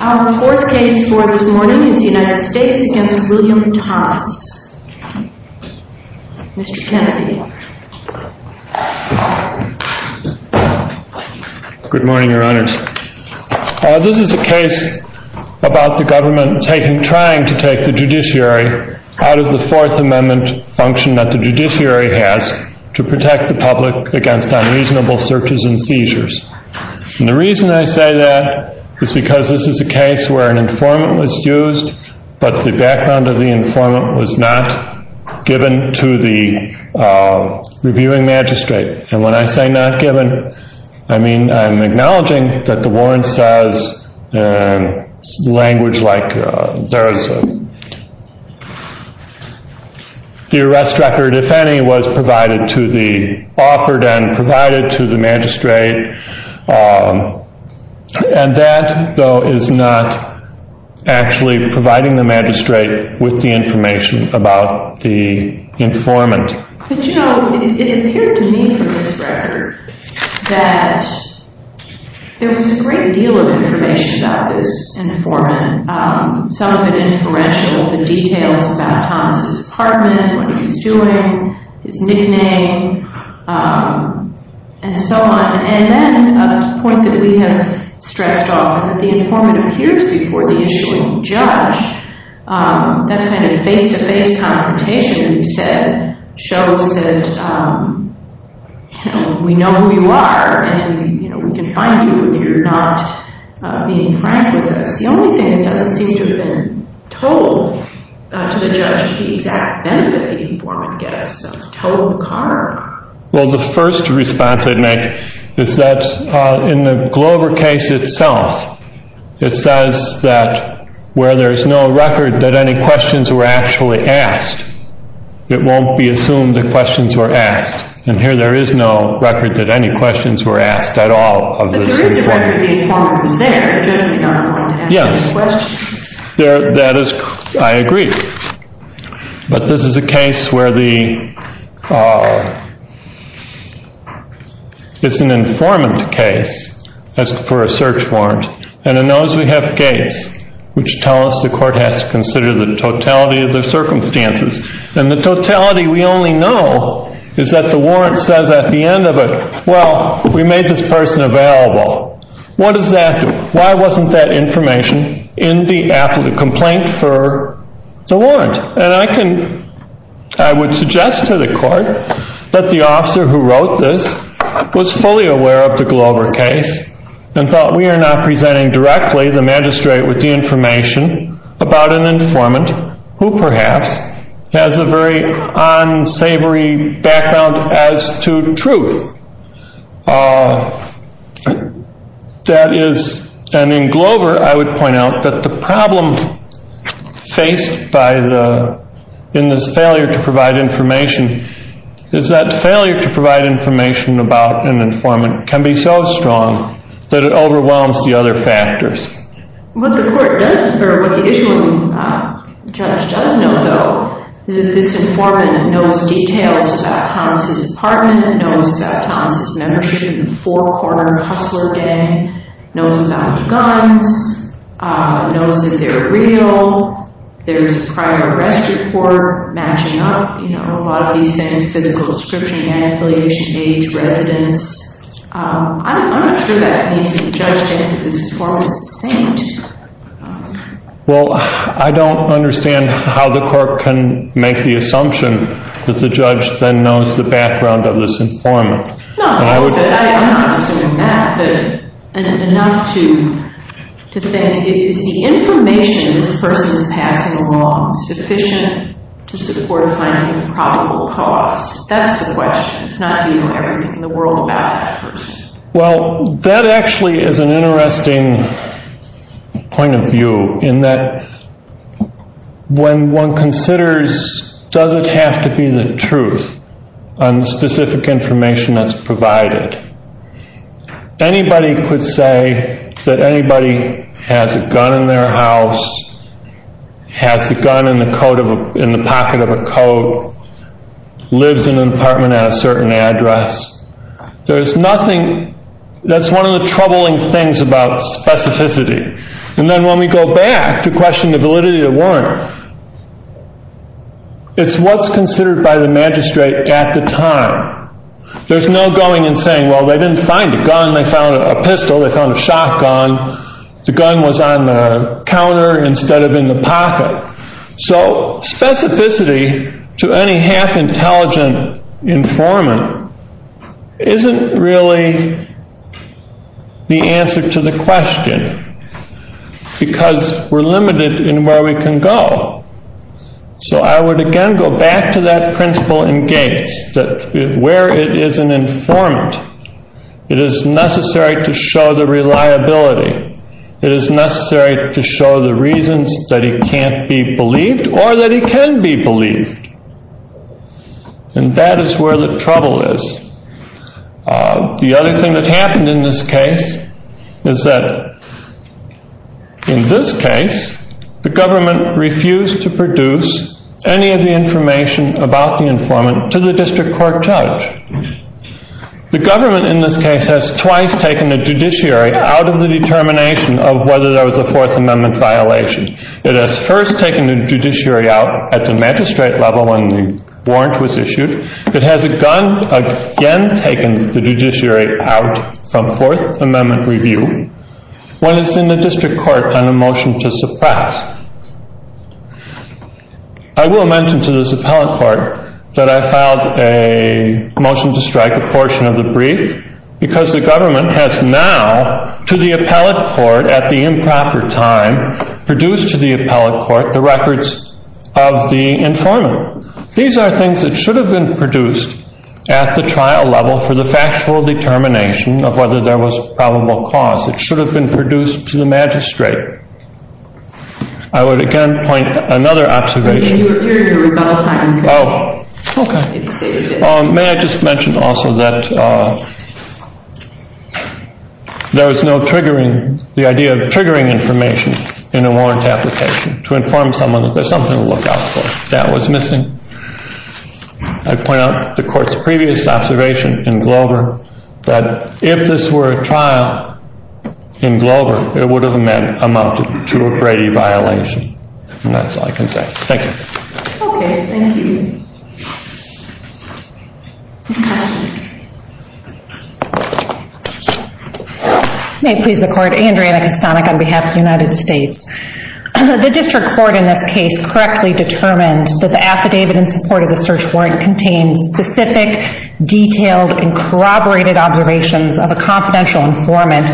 Our fourth case for this morning is the United States v. William Thomas. Mr. Kennedy. Good morning, Your Honors. This is a case about the government trying to take the judiciary out of the Fourth Amendment function that the judiciary has to protect the public against unreasonable searches and seizures. And the reason I say that is because this is a case where an informant was used, but the background of the informant was not given to the reviewing magistrate. And when I say not given, I mean I'm acknowledging that the warrant says in provided to the magistrate. And that, though, is not actually providing the magistrate with the information about the informant. But, you know, it appeared to me from this record that there was a great deal of information about this informant. Some of it influential, the details about Thomas' apartment, what And so on. And then, to the point that we have stretched off, that the informant appears before the issuing judge, that kind of face-to-face confrontation you said, shows that, you know, we know who you are, and we can find you if you're not being frank with us. The only thing that doesn't seem to have been told to the judge is the exact benefit the informant gets, total karma. Well, the first response I'd make is that in the Glover case itself, it says that where there's no record that any questions were actually asked, it won't be assumed that questions were asked. And here there is no record that any questions were asked at all. But there is a record that the informant was there. Yes. That is, I agree. But this is a case where the, it's an informant case for a search warrant, and it knows we have gates, which tell us the court has to consider the totality of the circumstances. And the totality we only know is that the warrant says at the time, there wasn't that information in the complaint for the warrant. And I can, I would suggest to the court that the officer who wrote this was fully aware of the Glover case and thought we are not presenting directly the magistrate with the information about an informant who perhaps has a very unsavory background as to truth. That is, and in Glover, I would point out that the problem faced by the, in this failure to provide information, is that failure to provide information about an informant can be so strong that it overwhelms the other factors. What the court does, or what the issuing judge does know, though, is that this informant knows details about Thomas' apartment, knows about Thomas' membership in the four-corner hustler gang, knows about the guns, knows that they're real, there's a prior arrest report matching up, you know, a lot of these things, physical description, man affiliation, age, residence. I'm not sure that means that the judge thinks that this informant is a saint. Well, I don't understand how the court can make the assumption that the judge then knows the background of this informant. No, but I'm not assuming that, but enough to think, is the information this person is passing along sufficient to support a finding of probable cause? That's the question. It's not being everything in the world about that person. Well, that actually is an interesting point of view, in that when one considers, does it have to be the truth on the specific information that's provided? Anybody could say that anybody has a gun in their house, has a gun in the pocket of a coat, lives in an apartment at a certain address. There's nothing, that's one of the troubling things about specificity. And then when we go back to question the validity of the warrant, it's what's considered by the magistrate at the time. There's no going and saying, well, they didn't find a gun, they found a pistol, they found a shotgun, the gun was on the counter instead of in the apartment, isn't really the answer to the question, because we're limited in where we can go. So I would again go back to that principle in Gates, that where it is an informant, it is necessary to show the reliability. It is necessary to show the reasons that he can't be believed or that he can be believed. And that is where the trouble is. The other thing that happened in this case is that in this case, the government refused to produce any of the information about the informant to the district court judge. The government in this case has twice taken a judiciary out of the determination of whether there was a Fourth Amendment violation. It has first taken a judiciary out at the magistrate level when the warrant was issued. It has again taken the judiciary out from Fourth Amendment review when it's in the district court on a motion to suppress. I will mention to this appellate court that I filed a motion to strike a portion of the brief because the government has now, to the appellate court at the improper time, produced to the appellate court the records of the informant. These are things that should have been produced at the trial level for the factual determination of whether there was probable cause. It should have been produced to the magistrate. I would again point to another observation. May I just mention also that there was no triggering, the idea of triggering information in a warrant application to inform someone that there's something to look out for. That was missing. I point out the court's previous observation in Glover that if this were a trial in Glover, it would have amounted to a Brady violation. And that's all I can say. Thank you. Okay, thank you. May it please the court, Andrea Anacostanek on behalf of the United States. The district court in this case correctly determined that the affidavit in support of the search warrant contains specific, detailed, and corroborated observations of a confidential informant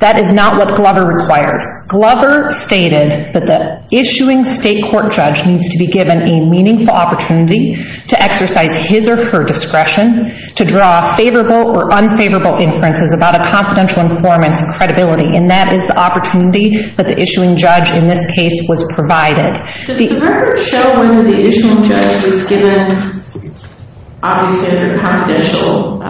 that is not what Glover requires. Glover stated that the issuing state court judge needs to be given a meaningful opportunity to exercise his or her discretion to draw favorable or unfavorable conclusions. The issuing judge in this case was provided. I do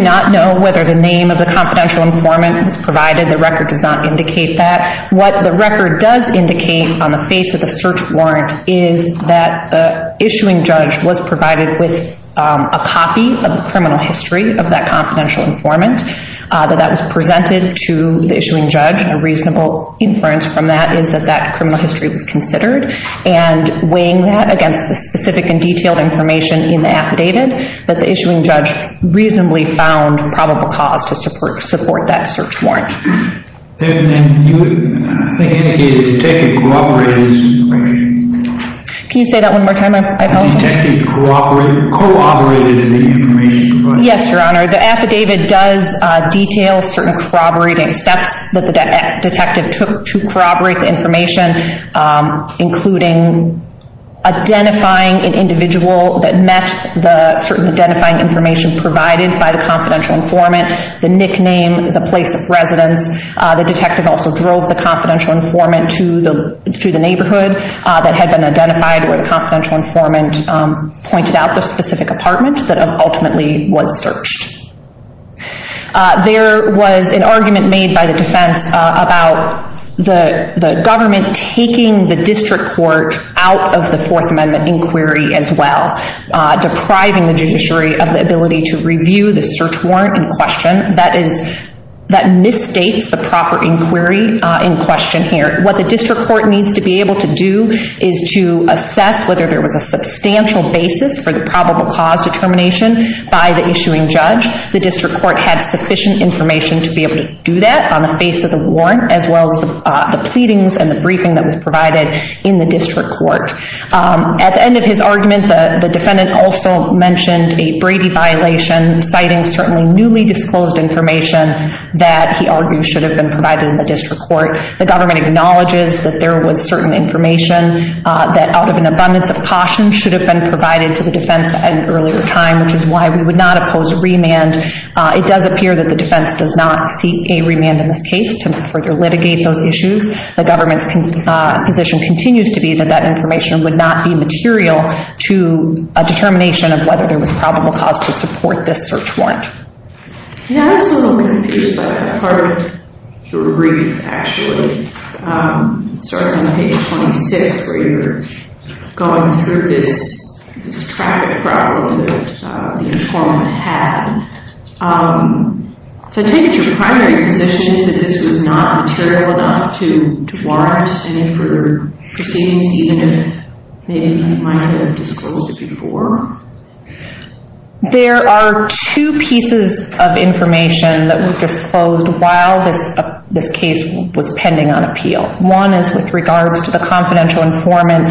not know whether the name of the confidential informant was provided. The record does not indicate that. What the record does indicate on the face of the search warrant is that the issuing judge was provided with a copy of the criminal history of that confidential informant, that that was presented to the issuing judge. A reasonable inference from that is that that criminal history was considered. And weighing that against the specific and detailed information in the affidavit, that the issuing judge reasonably found probable cause to support that search warrant. Can you say that one more time? Yes, Your Honor. The affidavit does detail certain corroborating steps that the detective took to corroborate the information, including identifying an individual that met the certain identifying information provided by the confidential informant, the nickname, the place of residence, the detective also drove the confidential informant to the neighborhood that had been identified where the confidential informant pointed out the specific apartment that ultimately was searched. There was an argument made by the defense about the government taking the district court out of the Fourth Amendment inquiry as well, depriving the judiciary of the ability to initiate the proper inquiry in question here. What the district court needs to be able to do is to assess whether there was a substantial basis for the probable cause determination by the issuing judge. The district court had sufficient information to be able to do that on the face of the warrant as well as the pleadings and the briefing that was provided in the district court. At the end of his argument, the defendant also mentioned a Brady violation citing certainly newly disclosed information that he argued should have been provided in the district court. The government acknowledges that there was certain information that out of an abundance of caution should have been provided to the defense at an earlier time, which is why we would not oppose remand. It does appear that the defense does not seek a remand in this case to further litigate those issues. The government's position continues to be that that information would not be material to a determination of whether there was probable cause to support this search warrant. Yeah, I was a little confused by that part of your brief actually. It starts on page 26 where you're going through this traffic problem that the informant had. So I take it your primary position is that this was not material enough to warrant any further proceedings even if maybe he might have disclosed it before? There are two pieces of information that were disclosed while this case was pending on appeal. One is with regards to the confidential informant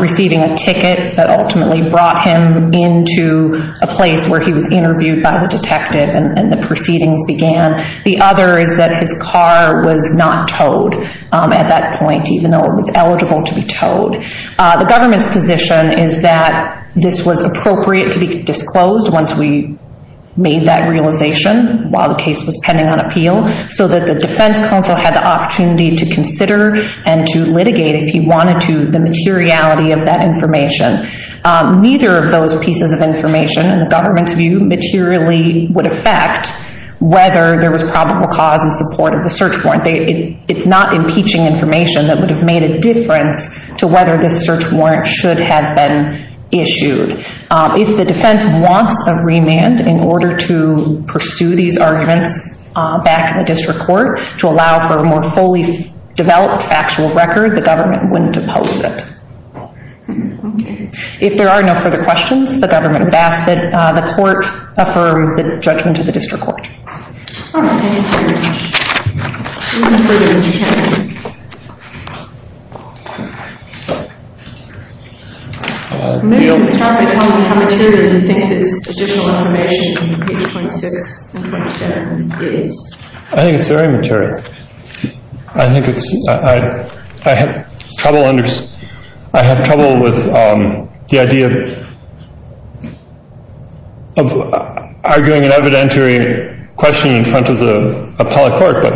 receiving a ticket that ultimately brought him into a place where he was interviewed by the detective and the proceedings began. The other is that his car was not towed at that point even though it was eligible to be towed. The government's position is that this was appropriate to be disclosed once we made that realization while the case was pending on appeal so that the defense counsel had the opportunity to consider and to litigate if he wanted to the materiality of that information. Neither of those pieces of information in the government's view materially would affect whether there was probable cause in support of the search warrant. It's not impeaching information that would have made a difference to whether this search warrant should have been issued. If the defense wants a remand in order to pursue these arguments back in the district court to allow for a more fully developed factual record, the government wouldn't oppose it. If there are no further questions, the government would ask that the court affirm the judgment to the district court. All right, thank you very much. Maybe you can start by telling me how material you think this additional information in page 0.6 and 0.7 is. I think it's very material. I have trouble with the idea of arguing an evidentiary question in front of the appellate court, but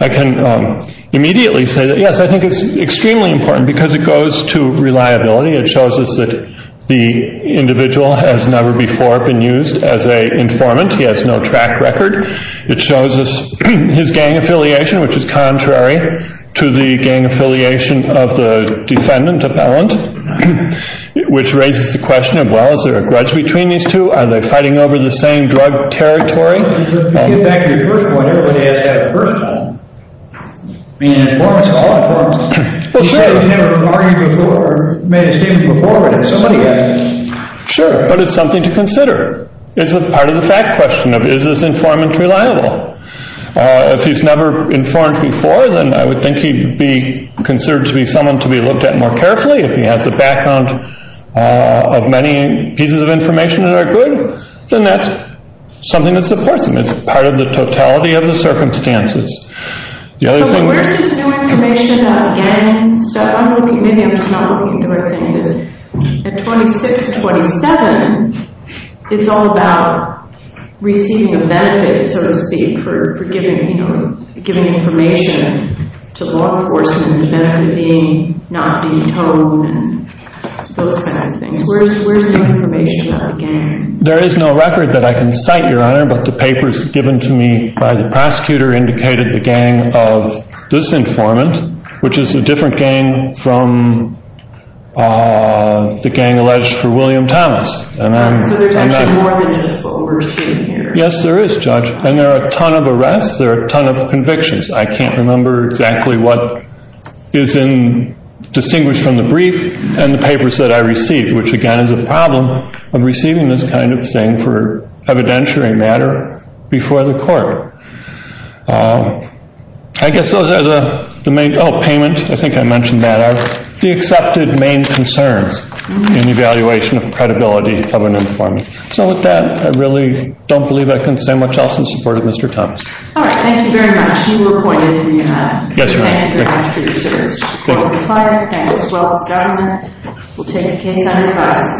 I can immediately say that yes, I think it's extremely important because it goes to reliability. It shows us that the individual has never before been used as an informant. He has no track record. It shows us his gang affiliation, which is contrary to the gang affiliation of the defendant appellant, which raises the question of, well, is there a grudge between these two? Are they fighting over the same drug territory? You get back to your first point, everybody has to have a personal. I mean, an informant is all informants. Sure. He's never argued before or made a statement before, but somebody has. Sure, but it's something to consider. It's part of the fact question of, is this informant reliable? If he's never informed before, then I would think he'd be considered to be someone to be looked at more carefully. If he has a background of many pieces of information that are good, then that's something that supports him. It's part of the totality of the circumstances. So where's this new information about gangs? Maybe I'm just not looking at the right things. At 26, 27, it's all about receiving a benefit, so to speak, for giving information to law enforcement and the benefit being not detoned and those kind of things. Where's the information about a gang? There is no record that I can cite, Your Honor, but the papers given to me by the prosecutor indicated the gang of this informant, which is a different gang from the gang alleged for William Thomas. So there's actually more than just what we're seeing here. Yes, there is, Judge, and there are a ton of arrests. There are a ton of convictions. I can't remember exactly what is distinguished from the brief and the papers that I received, which, again, is a problem of receiving this kind of thing for evidentiary matter before the court. I guess those are the main – oh, payment. I think I mentioned that. The accepted main concerns in evaluation of credibility of an informant. So with that, I really don't believe I can say much else in support of Mr. Thomas. All right. Thank you very much. You were appointed in the – Yes, Your Honor. Thank you very much for your service. The court will be quiet. Thanks as well to the government. We'll take a case under review.